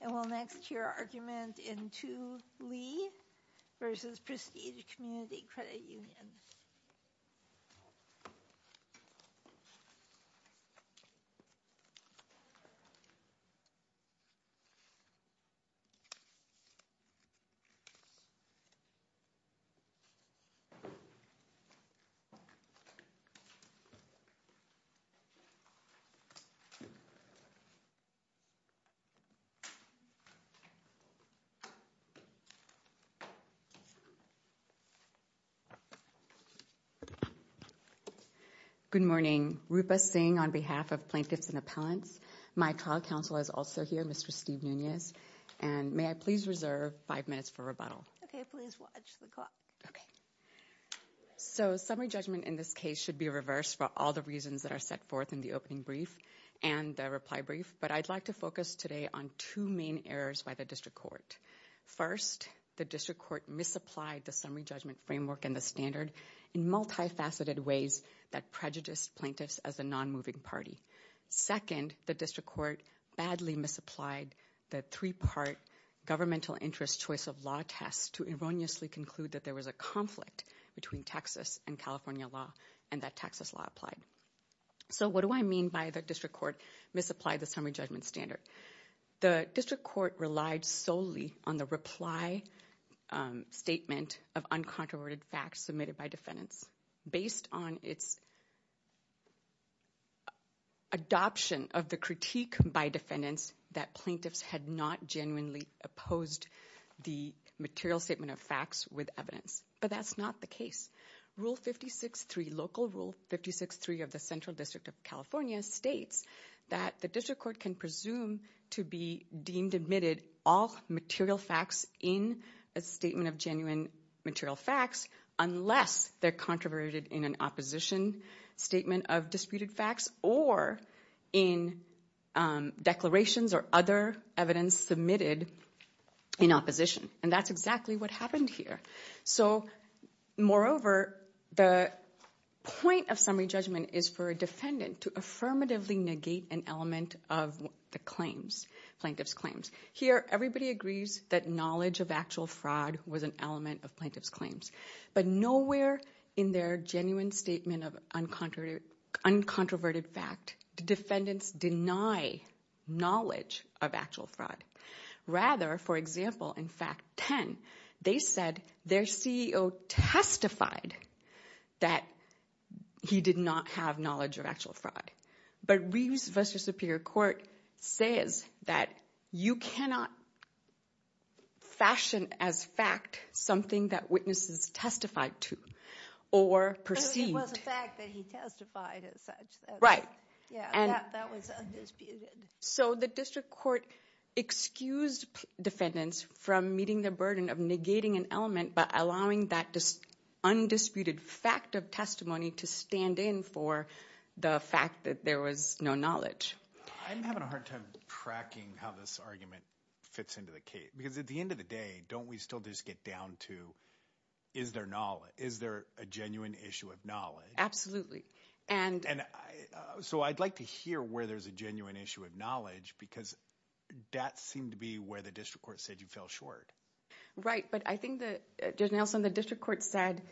And we'll next hear argument in 2 Lee v. Prestige Community Credit Union. Good morning. Rupa Singh on behalf of Plaintiffs and Appellants. My trial counsel is also here, Mr. Steve Nunez. And may I please reserve 5 minutes for rebuttal? Okay. Please watch the clock. Okay. So summary judgment in this case should be reversed for all the reasons that are set forth in the opening brief and the reply brief. But I'd like to focus today on two main errors by the district court. First, the district court misapplied the summary judgment framework and the standard in multifaceted ways that prejudiced plaintiffs as a non-moving party. Second, the district court badly misapplied the three-part governmental interest choice of law test to erroneously conclude that there was a conflict between Texas and California law and that Texas law applied. So what do I mean by the district court misapplied the summary judgment standard? The district court relied solely on the reply statement of uncontroverted facts submitted by defendants based on its adoption of the critique by defendants that plaintiffs had not genuinely opposed the material statement of facts with evidence. But that's not the case. Rule 56-3, local rule 56-3 of the Central District of California states that the district court can presume to be deemed admitted all material facts in a statement of genuine material facts unless they're controverted in an opposition statement of disputed facts or in declarations or other evidence submitted in opposition. And that's exactly what happened here. So moreover, the point of summary judgment is for a defendant to affirmatively negate an element of the claims, plaintiff's claims. Here, everybody agrees that knowledge of actual fraud was an element of plaintiff's claims. But nowhere in their genuine statement of uncontroverted fact did defendants deny knowledge of actual fraud. Rather, for example, in fact 10, they said their CEO testified that he did not have knowledge of actual fraud. But Reeves v. Superior Court says that you cannot fashion as fact something that witnesses testified to or perceived. But it was a fact that he testified as such. Right. Yeah, that was undisputed. So the district court excused defendants from meeting the burden of negating an element by allowing that undisputed fact of testimony to stand in for the fact that there was no knowledge. I'm having a hard time tracking how this argument fits into the case. Because at the end of the day, don't we still just get down to is there a genuine issue of knowledge? Absolutely. So I'd like to hear where there's a genuine issue of knowledge because that seemed to be where the district court said you fell short. Right. But I think, Judge Nelson, the district court said,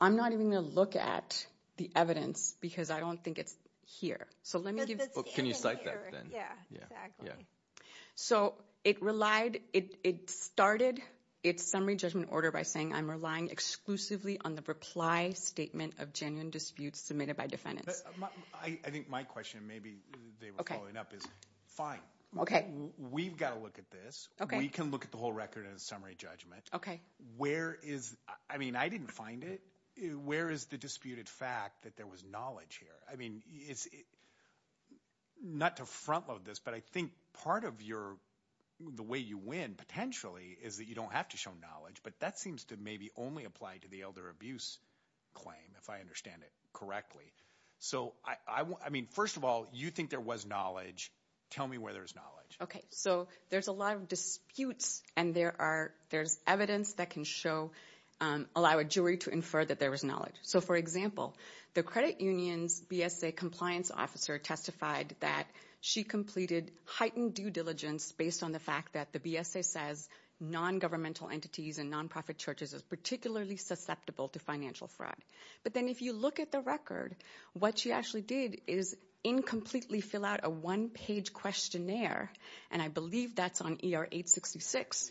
I'm not even going to look at the evidence because I don't think it's here. Can you cite that then? Yeah, exactly. So it relied – it started its summary judgment order by saying I'm relying exclusively on the reply statement of genuine disputes submitted by defendants. I think my question, maybe they were following up, is fine. Okay. We've got to look at this. We can look at the whole record in a summary judgment. Okay. Where is – I mean, I didn't find it. Where is the disputed fact that there was knowledge here? I mean, it's – not to front load this, but I think part of your – the way you win potentially is that you don't have to show knowledge. But that seems to maybe only apply to the elder abuse claim, if I understand it correctly. So, I mean, first of all, you think there was knowledge. Tell me where there's knowledge. Okay. So there's a lot of disputes, and there are – there's evidence that can show – allow a jury to infer that there was knowledge. So, for example, the credit union's BSA compliance officer testified that she completed heightened due diligence based on the fact that the BSA says non-governmental entities and nonprofit churches are particularly susceptible to financial fraud. But then if you look at the record, what she actually did is incompletely fill out a one-page questionnaire, and I believe that's on ER 866.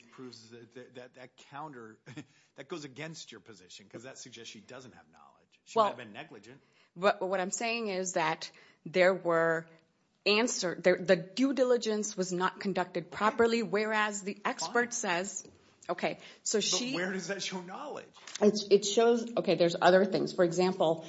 That counter – that goes against your position because that suggests she doesn't have knowledge. She might have been negligent. Well, what I'm saying is that there were – the due diligence was not conducted properly, whereas the expert says – okay, so she – But where does that show knowledge? It shows – okay, there's other things. For example,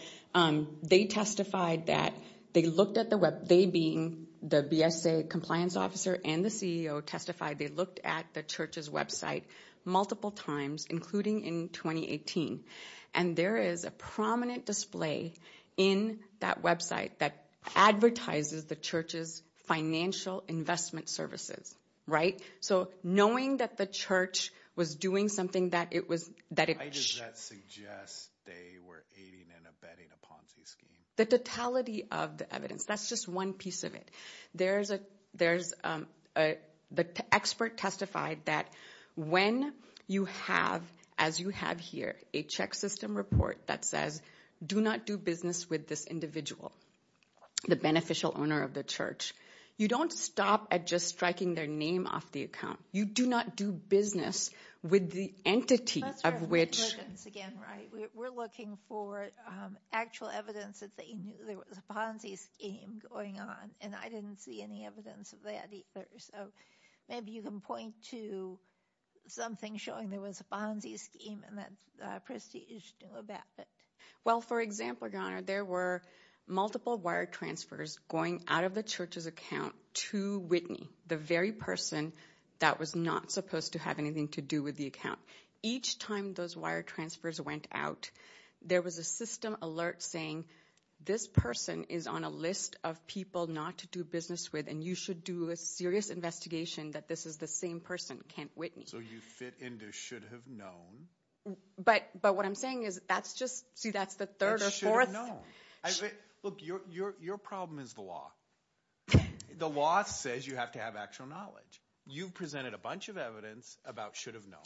they testified that they looked at the – they being the BSA compliance officer and the CEO testified they looked at the church's website multiple times, including in 2018. And there is a prominent display in that website that advertises the church's financial investment services, right? So knowing that the church was doing something that it was – that it – Does that suggest they were aiding and abetting a Ponzi scheme? The totality of the evidence. That's just one piece of it. There's a – the expert testified that when you have, as you have here, a check system report that says do not do business with this individual, the beneficial owner of the church, you don't stop at just striking their name off the account. You do not do business with the entity of which – That's where the evidence again, right? We're looking for actual evidence that they knew there was a Ponzi scheme going on, and I didn't see any evidence of that either. So maybe you can point to something showing there was a Ponzi scheme and that Prestige knew about it. Well, for example, Your Honor, there were multiple wire transfers going out of the church's account to Whitney, the very person that was not supposed to have anything to do with the account. Each time those wire transfers went out, there was a system alert saying this person is on a list of people not to do business with, and you should do a serious investigation that this is the same person, Kent Whitney. So you fit into should have known. But what I'm saying is that's just – see, that's the third or fourth. That's should have known. Look, your problem is the law. The law says you have to have actual knowledge. You've presented a bunch of evidence about should have known.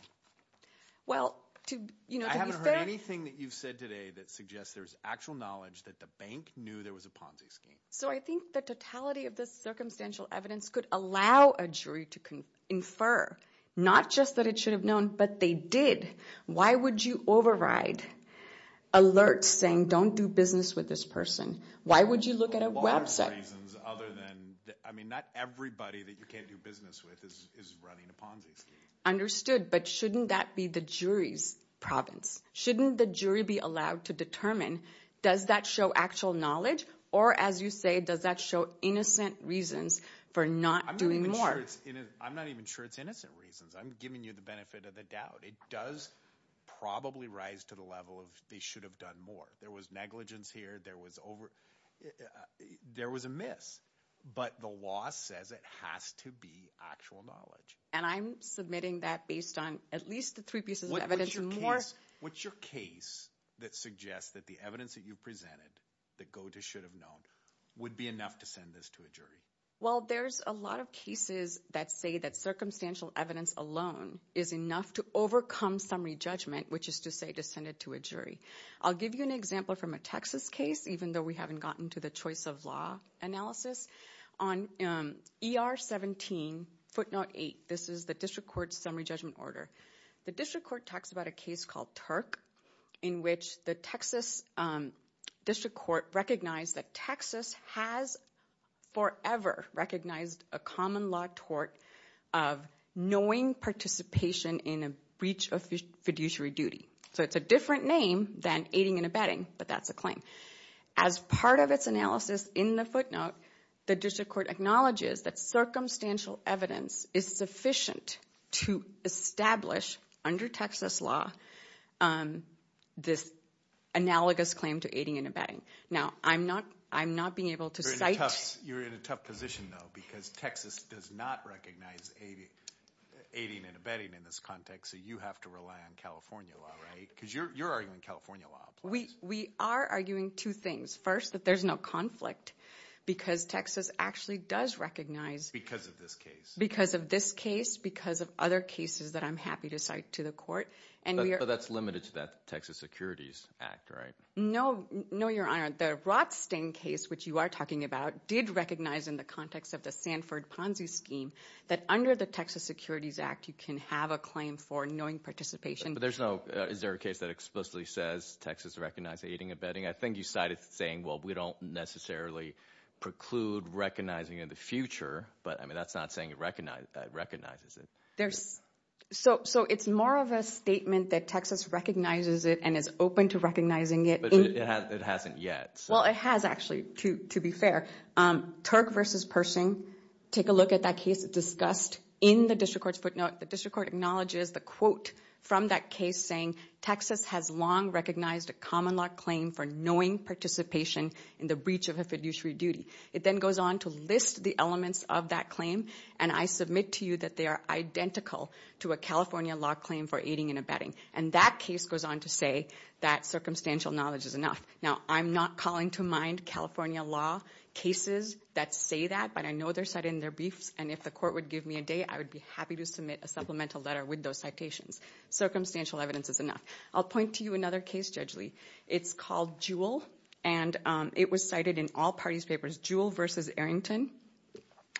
Well, to be fair – I haven't heard anything that you've said today that suggests there's actual knowledge that the bank knew there was a Ponzi scheme. So I think the totality of this circumstantial evidence could allow a jury to infer not just that it should have known, but they did. Why would you override alerts saying don't do business with this person? Why would you look at a website? For a lot of reasons other than – I mean not everybody that you can't do business with is running a Ponzi scheme. Understood, but shouldn't that be the jury's province? Shouldn't the jury be allowed to determine does that show actual knowledge or, as you say, does that show innocent reasons for not doing more? I'm not even sure it's innocent reasons. I'm giving you the benefit of the doubt. It does probably rise to the level of they should have done more. There was negligence here. There was over – there was a miss. But the law says it has to be actual knowledge. And I'm submitting that based on at least the three pieces of evidence. What's your case that suggests that the evidence that you presented that go to should have known would be enough to send this to a jury? Well, there's a lot of cases that say that circumstantial evidence alone is enough to overcome summary judgment, which is to say to send it to a jury. I'll give you an example from a Texas case, even though we haven't gotten to the choice of law analysis. On ER 17 footnote 8, this is the district court's summary judgment order. The district court talks about a case called Turk in which the Texas district court recognized that Texas has forever recognized a common law tort of knowing participation in a breach of fiduciary duty. So it's a different name than aiding and abetting, but that's a claim. As part of its analysis in the footnote, the district court acknowledges that circumstantial evidence is sufficient to establish under Texas law this analogous claim to aiding and abetting. Now, I'm not being able to cite – You're in a tough position, though, because Texas does not recognize aiding and abetting in this context, so you have to rely on California law, right? Because you're arguing California law applies. We are arguing two things. First, that there's no conflict because Texas actually does recognize – Because of this case. Because of this case, because of other cases that I'm happy to cite to the court. But that's limited to that Texas Securities Act, right? No, Your Honor. The Rothstein case, which you are talking about, did recognize in the context of the Sanford Ponzi scheme that under the Texas Securities Act you can have a claim for knowing participation. But there's no – is there a case that explicitly says Texas recognizes aiding and abetting? I think you cited saying, well, we don't necessarily preclude recognizing in the future, but that's not saying it recognizes it. So it's more of a statement that Texas recognizes it and is open to recognizing it. But it hasn't yet. Well, it has actually, to be fair. Turk v. Pershing, take a look at that case. It's discussed in the district court's footnote. The district court acknowledges the quote from that case saying Texas has long recognized a common law claim for knowing participation in the breach of a fiduciary duty. It then goes on to list the elements of that claim. And I submit to you that they are identical to a California law claim for aiding and abetting. And that case goes on to say that circumstantial knowledge is enough. Now, I'm not calling to mind California law cases that say that. But I know they're cited in their briefs. And if the court would give me a date, I would be happy to submit a supplemental letter with those citations. Circumstantial evidence is enough. I'll point to you another case, Judge Lee. It's called Jewell. And it was cited in all parties' papers. Jewell v. Arrington.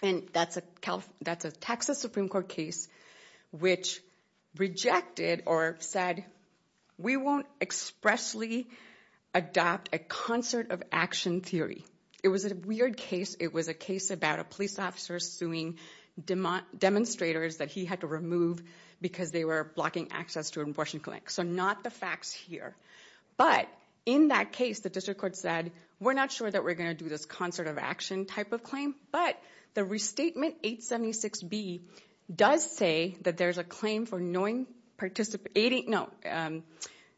And that's a Texas Supreme Court case which rejected or said we won't expressly adopt a concert of action theory. It was a weird case. It was a case about a police officer suing demonstrators that he had to remove because they were blocking access to an abortion clinic. So not the facts here. But in that case, the district court said we're not sure that we're going to do this concert of action type of claim. But the restatement 876B does say that there's a claim for knowing, participating, no,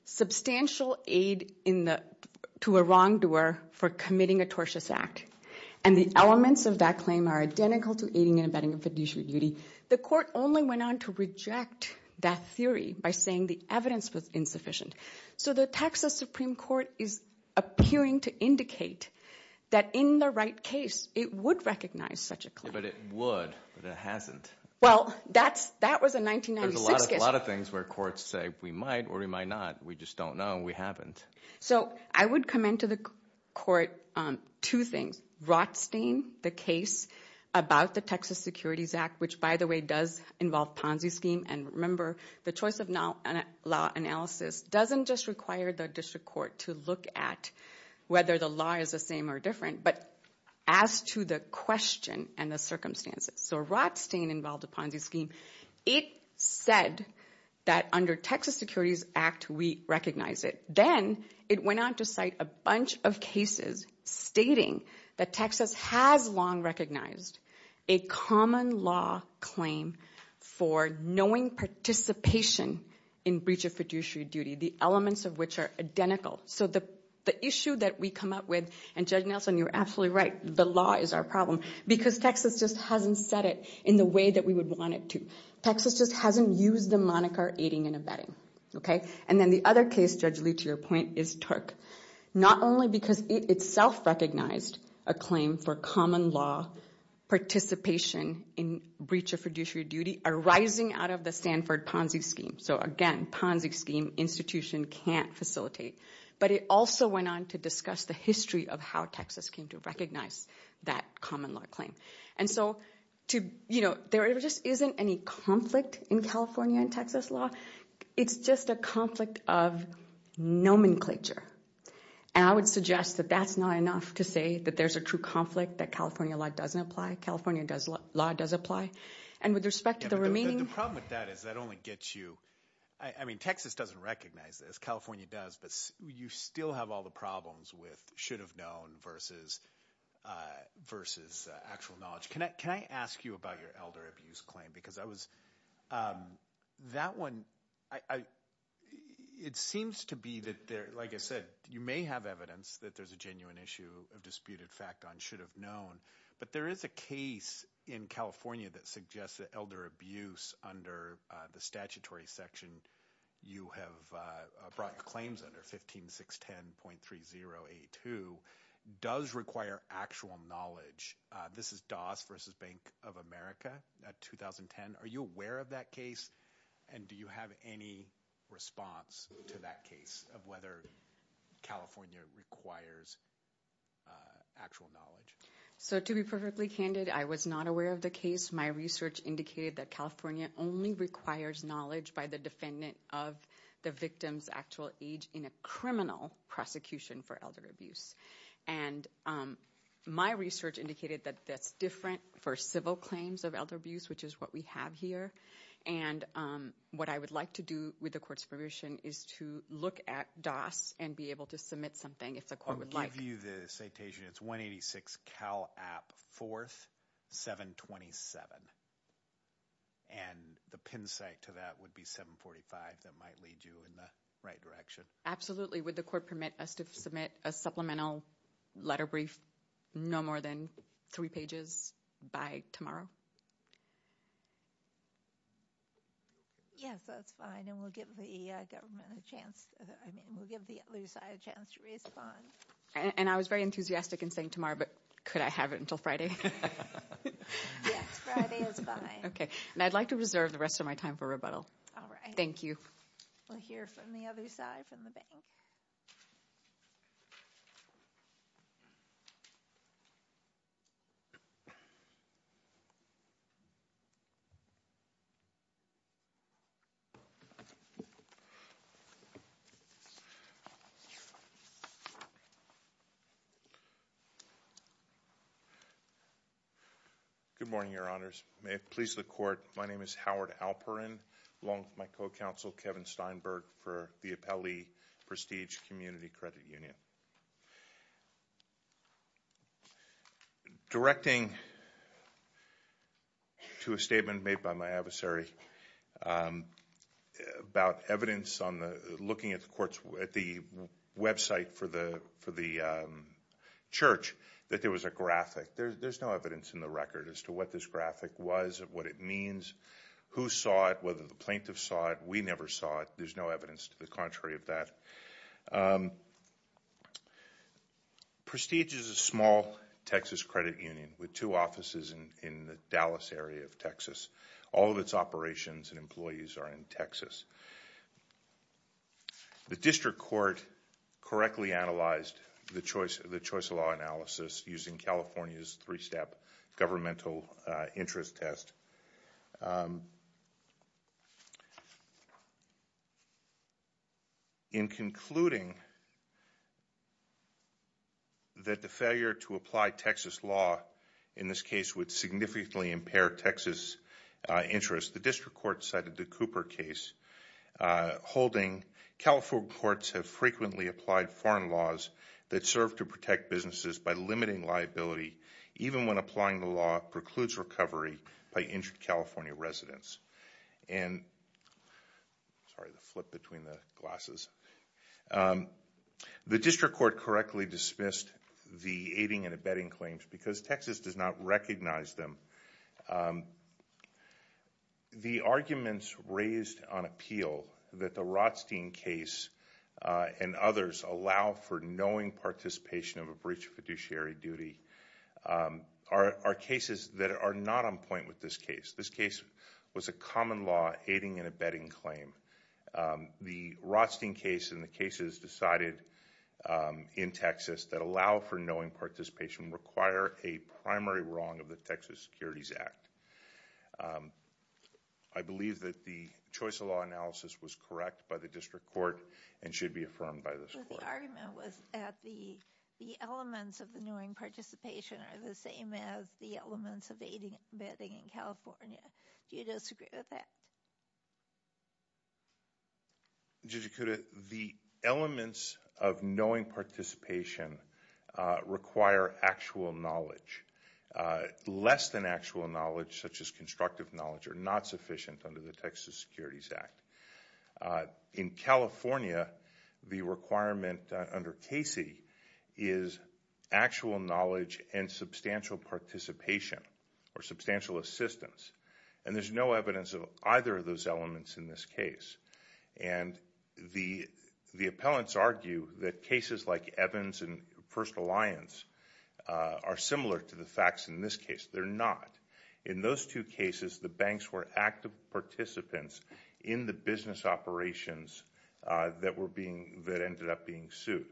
substantial aid to a wrongdoer for committing a tortious act. And the elements of that claim are identical to aiding and abetting a fiduciary duty. The court only went on to reject that theory by saying the evidence was insufficient. So the Texas Supreme Court is appearing to indicate that in the right case it would recognize such a claim. But it would, but it hasn't. Well, that was a 1996 case. There's a lot of things where courts say we might or we might not. We just don't know. We haven't. So I would commend to the court two things. Rothstein, the case about the Texas Securities Act, which, by the way, does involve Ponzi scheme. And remember, the choice of law analysis doesn't just require the district court to look at whether the law is the same or different. But as to the question and the circumstances. So Rothstein involved a Ponzi scheme. It said that under Texas Securities Act we recognize it. Then it went on to cite a bunch of cases stating that Texas has long recognized a common law claim for knowing participation in breach of fiduciary duty. The elements of which are identical. So the issue that we come up with, and Judge Nelson, you're absolutely right, the law is our problem. Because Texas just hasn't said it in the way that we would want it to. Texas just hasn't used the moniker aiding and abetting. And then the other case, Judge Lee, to your point, is Turk. Not only because it itself recognized a claim for common law participation in breach of fiduciary duty arising out of the Stanford Ponzi scheme. So, again, Ponzi scheme institution can't facilitate. But it also went on to discuss the history of how Texas came to recognize that common law claim. And so there just isn't any conflict in California and Texas law. It's just a conflict of nomenclature. And I would suggest that that's not enough to say that there's a true conflict. That California law doesn't apply. California law does apply. And with respect to the remaining- The problem with that is that only gets you, I mean, Texas doesn't recognize this. California does. But you still have all the problems with should have known versus actual knowledge. Judge, can I ask you about your elder abuse claim? Because that one, it seems to be that, like I said, you may have evidence that there's a genuine issue of disputed fact on should have known. But there is a case in California that suggests that elder abuse under the statutory section you have brought claims under, 15610.3082, does require actual knowledge. This is Dawes v. Bank of America, 2010. Are you aware of that case? And do you have any response to that case of whether California requires actual knowledge? So to be perfectly candid, I was not aware of the case. My research indicated that California only requires knowledge by the defendant of the victim's actual age in a criminal prosecution for elder abuse. And my research indicated that that's different for civil claims of elder abuse, which is what we have here. And what I would like to do with the court's permission is to look at DOS and be able to submit something if the court would like. I'll give you the citation. It's 186 Cal App 4th, 727. And the pin site to that would be 745. That might lead you in the right direction. Absolutely. Would the court permit us to submit a supplemental letter brief no more than three pages by tomorrow? Yes, that's fine. And we'll give the government a chance. I mean, we'll give the other side a chance to respond. And I was very enthusiastic in saying tomorrow, but could I have it until Friday? Yes, Friday is fine. Okay. And I'd like to reserve the rest of my time for rebuttal. All right. Thank you. We'll hear from the other side, from the bank. Good morning, Your Honors. May it please the court, my name is Howard Alperin. I belong to my co-counsel, Kevin Steinberg, for the Appellee Prestige Community Credit Union. Directing to a statement made by my adversary about evidence on looking at the website for the church that there was a graphic. There's no evidence in the record as to what this graphic was, what it means, who saw it, whether the plaintiff saw it, we never saw it. There's no evidence to the contrary of that. Prestige is a small Texas credit union with two offices in the Dallas area of Texas. All of its operations and employees are in Texas. The district court correctly analyzed the choice of law analysis using California's three-step governmental interest test. In concluding that the failure to apply Texas law in this case would significantly impair Texas interest, the district court cited the Cooper case holding California courts have frequently applied foreign laws that serve to protect businesses by limiting liability even when applying the law precludes recovery by injured California residents. And, sorry, the flip between the glasses. The district court correctly dismissed the aiding and abetting claims because Texas does not recognize them. The arguments raised on appeal that the Rothstein case and others allow for knowing participation of a breach of fiduciary duty are cases that are not on point with this case. This case was a common law aiding and abetting claim. The Rothstein case and the cases decided in Texas that allow for knowing participation require a primary wrong of the Texas Securities Act. I believe that the choice of law analysis was correct by the district court and should be affirmed by this court. The argument was that the elements of the knowing participation are the same as the elements of aiding and abetting in California. Do you disagree with that? Judge Ikuda, the elements of knowing participation require actual knowledge. Less than actual knowledge, such as constructive knowledge, are not sufficient under the Texas Securities Act. In California, the requirement under Casey is actual knowledge and substantial participation or substantial assistance. And there's no evidence of either of those elements in this case. And the appellants argue that cases like Evans and First Alliance are similar to the facts in this case. They're not. In those two cases, the banks were active participants in the business operations that ended up being sued.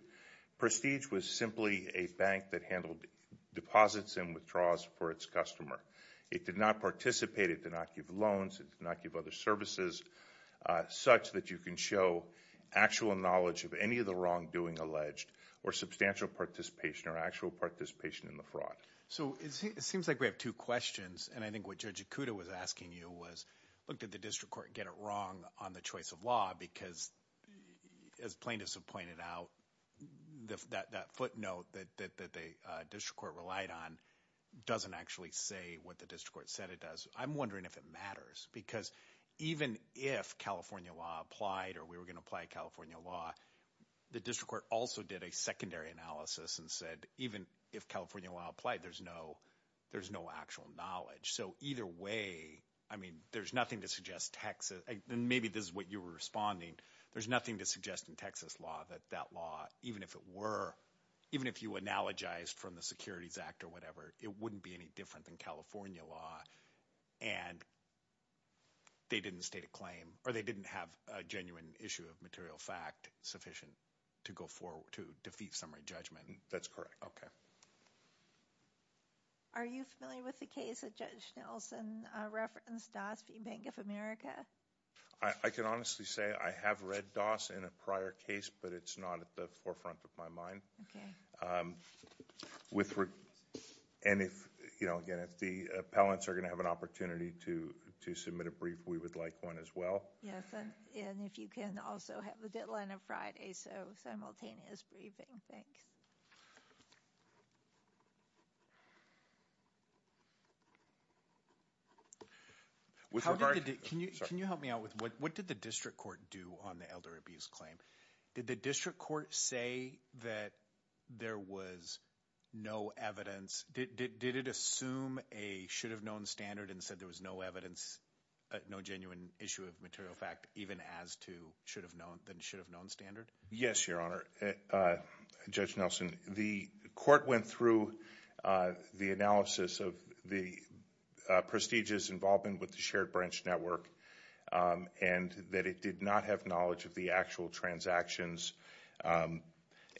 Prestige was simply a bank that handled deposits and withdrawals for its customer. It did not participate, it did not give loans, it did not give other services, such that you can show actual knowledge of any of the wrongdoing alleged or substantial participation or actual participation in the fraud. So it seems like we have two questions. And I think what Judge Ikuda was asking you was, look, did the district court get it wrong on the choice of law? Because as plaintiffs have pointed out, that footnote that the district court relied on doesn't actually say what the district court said it does. I'm wondering if it matters. Because even if California law applied or we were going to apply California law, the district court also did a secondary analysis and said, even if California law applied, there's no actual knowledge. So either way, I mean, there's nothing to suggest Texas, and maybe this is what you were responding, there's nothing to suggest in Texas law that that law, even if it were, even if you analogized from the Securities Act or whatever, it wouldn't be any different than California law. And they didn't state a claim or they didn't have a genuine issue of material fact sufficient to go forward to defeat summary judgment. That's correct. OK. Are you familiar with the case that Judge Nelson referenced, Doss v. Bank of America? I can honestly say I have read Doss in a prior case, but it's not at the forefront of my mind. OK. And again, if the appellants are going to have an opportunity to submit a brief, we would like one as well. Yes. And if you can also have a deadline of Friday, so simultaneous briefing. Thanks. Can you help me out with what did the district court do on the elder abuse claim? Did the district court say that there was no evidence? Did it assume a should-have-known standard and said there was no evidence, no genuine issue of material fact even as to should-have-known standard? Yes, Your Honor. Judge Nelson, the court went through the analysis of the prestigious involvement with the Shared Branch Network and that it did not have knowledge of the actual transactions, and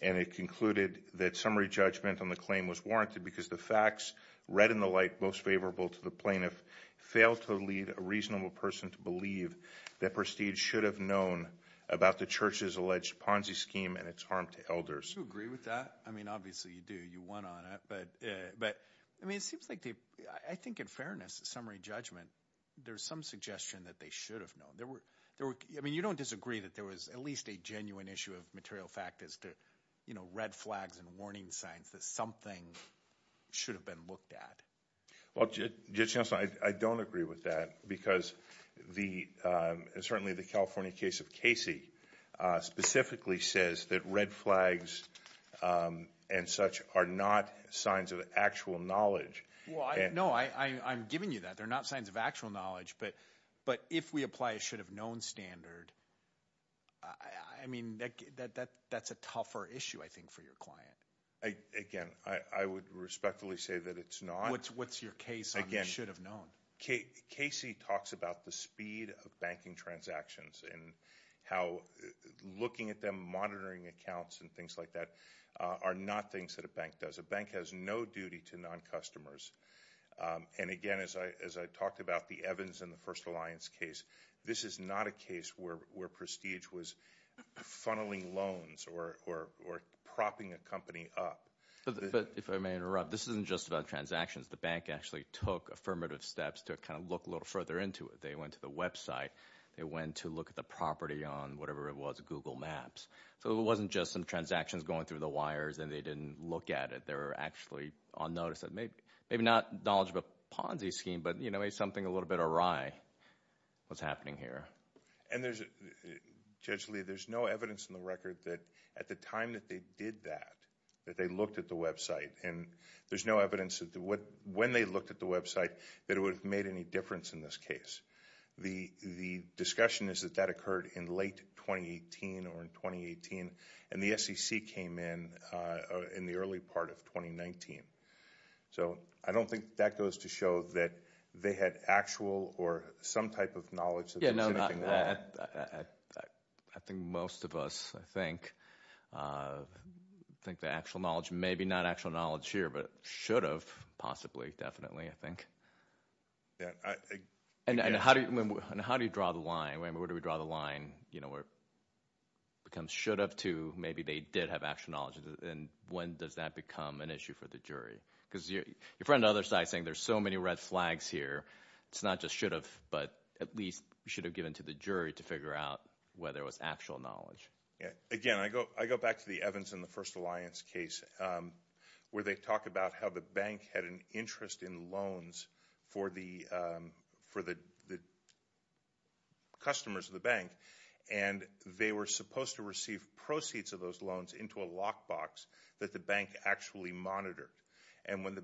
it concluded that summary judgment on the claim was warranted because the facts read in the light most favorable to the plaintiff failed to lead a reasonable person to believe that Prestige should have known about the church's alleged Ponzi scheme and its harm to elders. Do you agree with that? I mean, obviously, you do. You won on it. But, I mean, it seems like they – I think in fairness, summary judgment, there's some suggestion that they should have known. There were – I mean, you don't disagree that there was at least a genuine issue of material fact as to red flags and warning signs that something should have been looked at. Well, Judge Nelson, I don't agree with that because the – certainly the California case of Casey specifically says that red flags and such are not signs of actual knowledge. No, I'm giving you that. They're not signs of actual knowledge. But if we apply a should-have-known standard, I mean, that's a tougher issue, I think, for your client. Again, I would respectfully say that it's not. What's your case on the should-have-known? Casey talks about the speed of banking transactions and how looking at them, monitoring accounts and things like that are not things that a bank does. A bank has no duty to non-customers. And again, as I talked about the Evans and the First Alliance case, this is not a case where Prestige was funneling loans or propping a company up. But if I may interrupt, this isn't just about transactions. The bank actually took affirmative steps to kind of look a little further into it. They went to the website. They went to look at the property on whatever it was, Google Maps. So it wasn't just some transactions going through the wires and they didn't look at it. They were actually on notice of maybe not knowledge of a Ponzi scheme, but maybe something a little bit awry was happening here. And Judge Lee, there's no evidence in the record that at the time that they did that, that they looked at the website. And there's no evidence that when they looked at the website that it would have made any difference in this case. The discussion is that that occurred in late 2018 or in 2018, and the SEC came in in the early part of 2019. So I don't think that goes to show that they had actual or some type of knowledge that there was anything wrong. I think most of us, I think, think the actual knowledge may be not actual knowledge here, but it should have possibly, definitely, I think. And how do you draw the line? Where do we draw the line where it becomes should have to maybe they did have actual knowledge, and when does that become an issue for the jury? Because your friend on the other side is saying there's so many red flags here. It's not just should have, but at least should have given to the jury to figure out whether it was actual knowledge. Again, I go back to the Evans and the First Alliance case where they talk about how the bank had an interest in loans for the customers of the bank. And they were supposed to receive proceeds of those loans into a lockbox that the bank actually monitored. And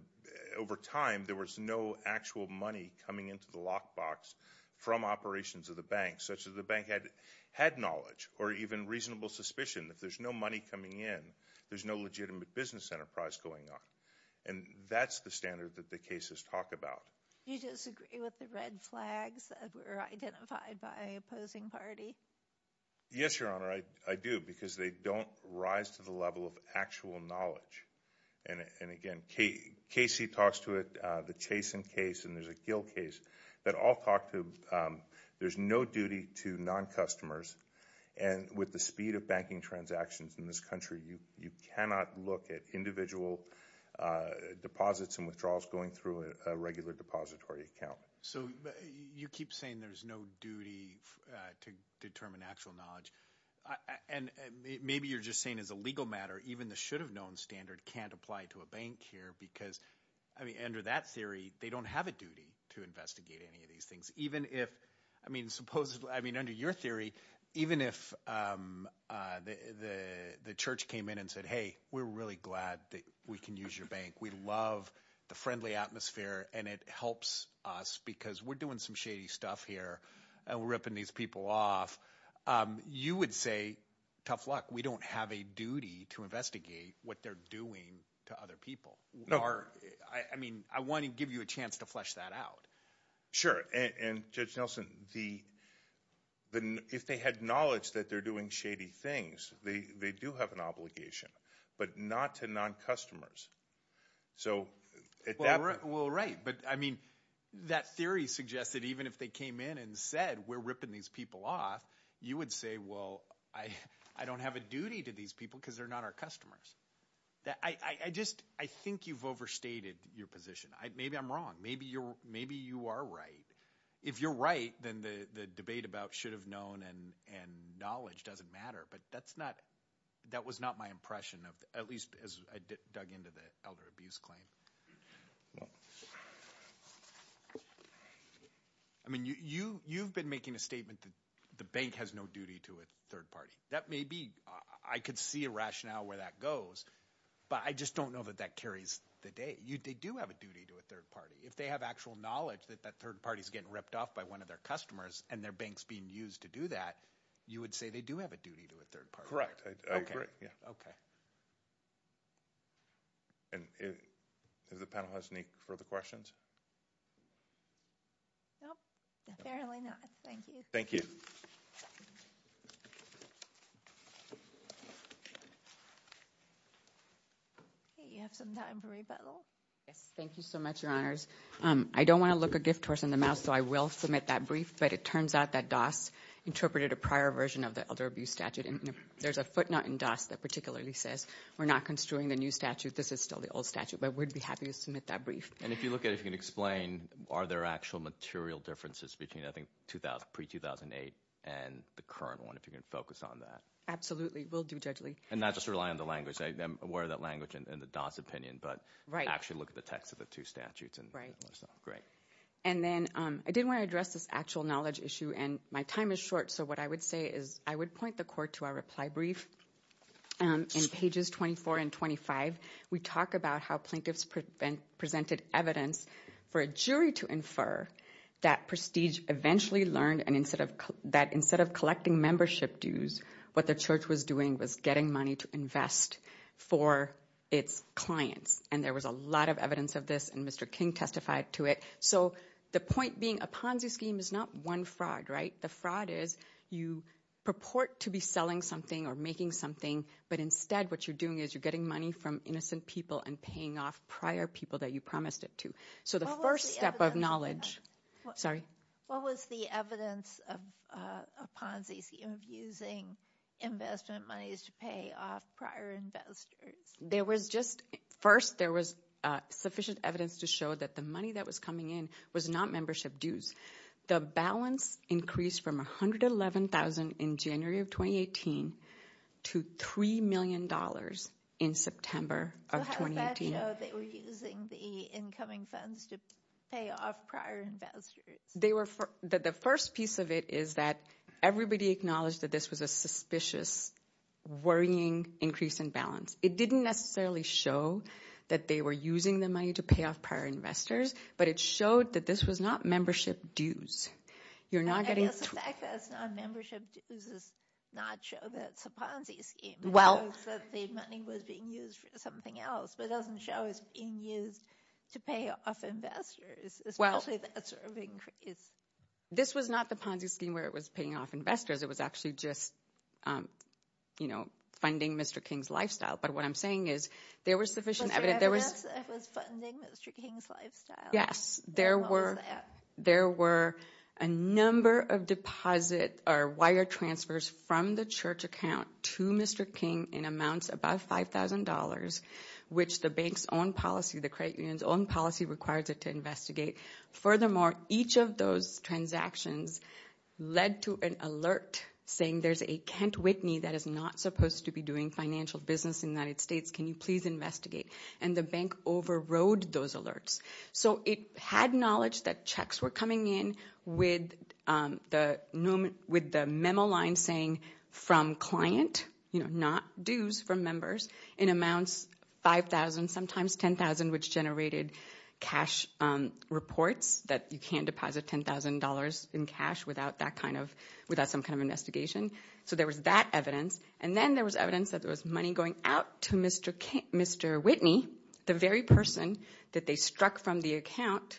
over time, there was no actual money coming into the lockbox from operations of the bank, such as the bank had knowledge or even reasonable suspicion. If there's no money coming in, there's no legitimate business enterprise going on. And that's the standard that the cases talk about. Do you disagree with the red flags that were identified by opposing party? Yes, Your Honor, I do, because they don't rise to the level of actual knowledge. And again, Casey talks to it, the Chase and Case, and there's a Gill case that all talk to there's no duty to non-customers. And with the speed of banking transactions in this country, you cannot look at individual deposits and withdrawals going through a regular depository account. So you keep saying there's no duty to determine actual knowledge. And maybe you're just saying as a legal matter, even the should-have-known standard can't apply to a bank here because, I mean, under that theory, they don't have a duty to investigate any of these things. I mean, under your theory, even if the church came in and said, hey, we're really glad that we can use your bank. We love the friendly atmosphere, and it helps us because we're doing some shady stuff here and we're ripping these people off. You would say, tough luck. We don't have a duty to investigate what they're doing to other people. I mean, I want to give you a chance to flesh that out. Sure, and Judge Nelson, if they had knowledge that they're doing shady things, they do have an obligation, but not to non-customers. Well, right, but, I mean, that theory suggests that even if they came in and said we're ripping these people off, you would say, well, I don't have a duty to these people because they're not our customers. I think you've overstated your position. Maybe I'm wrong. Maybe you are right. If you're right, then the debate about should have known and knowledge doesn't matter, but that was not my impression, at least as I dug into the elder abuse claim. I mean, you've been making a statement that the bank has no duty to a third party. That may be – I could see a rationale where that goes, but I just don't know that that carries the day. They do have a duty to a third party. If they have actual knowledge that that third party is getting ripped off by one of their customers and their bank is being used to do that, you would say they do have a duty to a third party. Correct. I agree. Okay. And if the panel has any further questions? No, apparently not. Thank you. Thank you. Okay, you have some time for rebuttal. Yes, thank you so much, Your Honors. I don't want to look a gift horse in the mouth, so I will submit that brief, but it turns out that DAS interpreted a prior version of the elder abuse statute. And there's a footnote in DAS that particularly says we're not construing the new statute. This is still the old statute, but we'd be happy to submit that brief. And if you look at it, if you can explain, are there actual material differences between, I think, pre-2008 and the current one, if you can focus on that. Absolutely. We'll do judgely. And not just rely on the language. I'm aware of that language and the DAS opinion, but actually look at the text of the two statutes. Right. Great. And then I did want to address this actual knowledge issue, and my time is short, so what I would say is I would point the Court to our reply brief. In pages 24 and 25, we talk about how plaintiffs presented evidence for a jury to infer that Prestige eventually learned that instead of collecting membership dues, what the church was doing was getting money to invest for its clients. And there was a lot of evidence of this, and Mr. King testified to it. So the point being a Ponzi scheme is not one fraud, right? The fraud is you purport to be selling something or making something, but instead what you're doing is you're getting money from innocent people and paying off prior people that you promised it to. So the first step of knowledge. Sorry? What was the evidence of a Ponzi scheme of using investment monies to pay off prior investors? First, there was sufficient evidence to show that the money that was coming in was not membership dues. The balance increased from $111,000 in January of 2018 to $3 million in September of 2018. So how does that show they were using the incoming funds to pay off prior investors? The first piece of it is that everybody acknowledged that this was a suspicious, worrying increase in balance. It didn't necessarily show that they were using the money to pay off prior investors, but it showed that this was not membership dues. I guess the fact that it's not membership dues does not show that it's a Ponzi scheme. It shows that the money was being used for something else, but it doesn't show it's being used to pay off investors, especially that sort of increase. This was not the Ponzi scheme where it was paying off investors. It was actually just, you know, funding Mr. King's lifestyle. But what I'm saying is there was sufficient evidence. Was there evidence that it was funding Mr. King's lifestyle? Yes, there were a number of deposit or wire transfers from the church account to Mr. King in amounts above $5,000, which the bank's own policy, the credit union's own policy requires it to investigate. Furthermore, each of those transactions led to an alert saying there's a Kent Whitney that is not supposed to be doing financial business in the United States. Can you please investigate? And the bank overrode those alerts. So it had knowledge that checks were coming in with the memo line saying from client, you know, not dues from members, in amounts $5,000, sometimes $10,000, which generated cash reports that you can't deposit $10,000 in cash without some kind of investigation. So there was that evidence. And then there was evidence that there was money going out to Mr. Whitney, the very person that they struck from the account,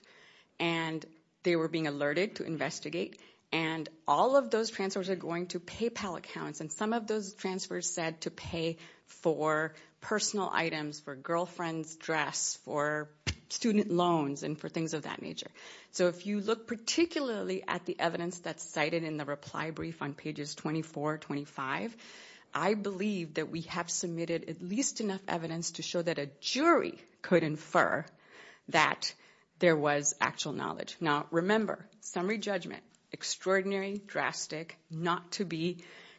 and they were being alerted to investigate. And all of those transfers are going to PayPal accounts. And some of those transfers said to pay for personal items, for girlfriends' dress, for student loans, and for things of that nature. So if you look particularly at the evidence that's cited in the reply brief on pages 24, 25, I believe that we have submitted at least enough evidence to show that a jury could infer that there was actual knowledge. Now, remember, summary judgment, extraordinary, drastic, not to be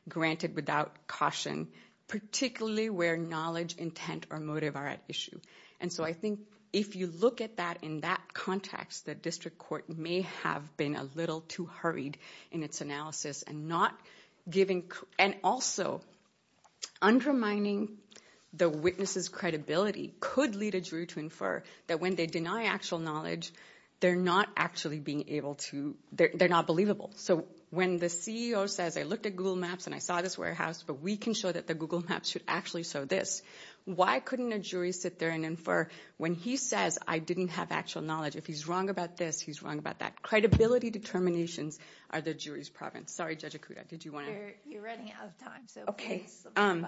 granted without caution, particularly where knowledge, intent, or motive are at issue. And so I think if you look at that in that context, the district court may have been a little too hurried in its analysis and also undermining the witness's credibility could lead a jury to infer that when they deny actual knowledge, they're not actually being able to – they're not believable. So when the CEO says, I looked at Google Maps and I saw this warehouse, but we can show that the Google Maps should actually show this, why couldn't a jury sit there and infer when he says, I didn't have actual knowledge? If he's wrong about this, he's wrong about that. Credibility determinations are the jury's province. Sorry, Judge Akuda, did you want to – You're running out of time, so please. Okay.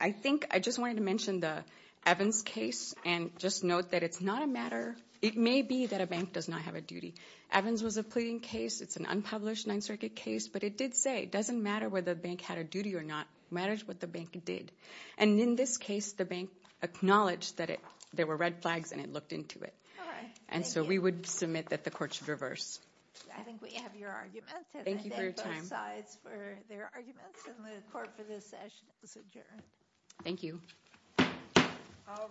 I think I just wanted to mention the Evans case and just note that it's not a matter – it may be that a bank does not have a duty. Evans was a pleading case. It's an unpublished Ninth Circuit case, but it did say it doesn't matter whether the bank had a duty or not. It matters what the bank did. And in this case, the bank acknowledged that there were red flags and it looked into it. All right. And so we would submit that the court should reverse. I think we have your arguments. Thank you for your time. And I thank both sides for their arguments, and the court for this session is adjourned. Thank you. All rise.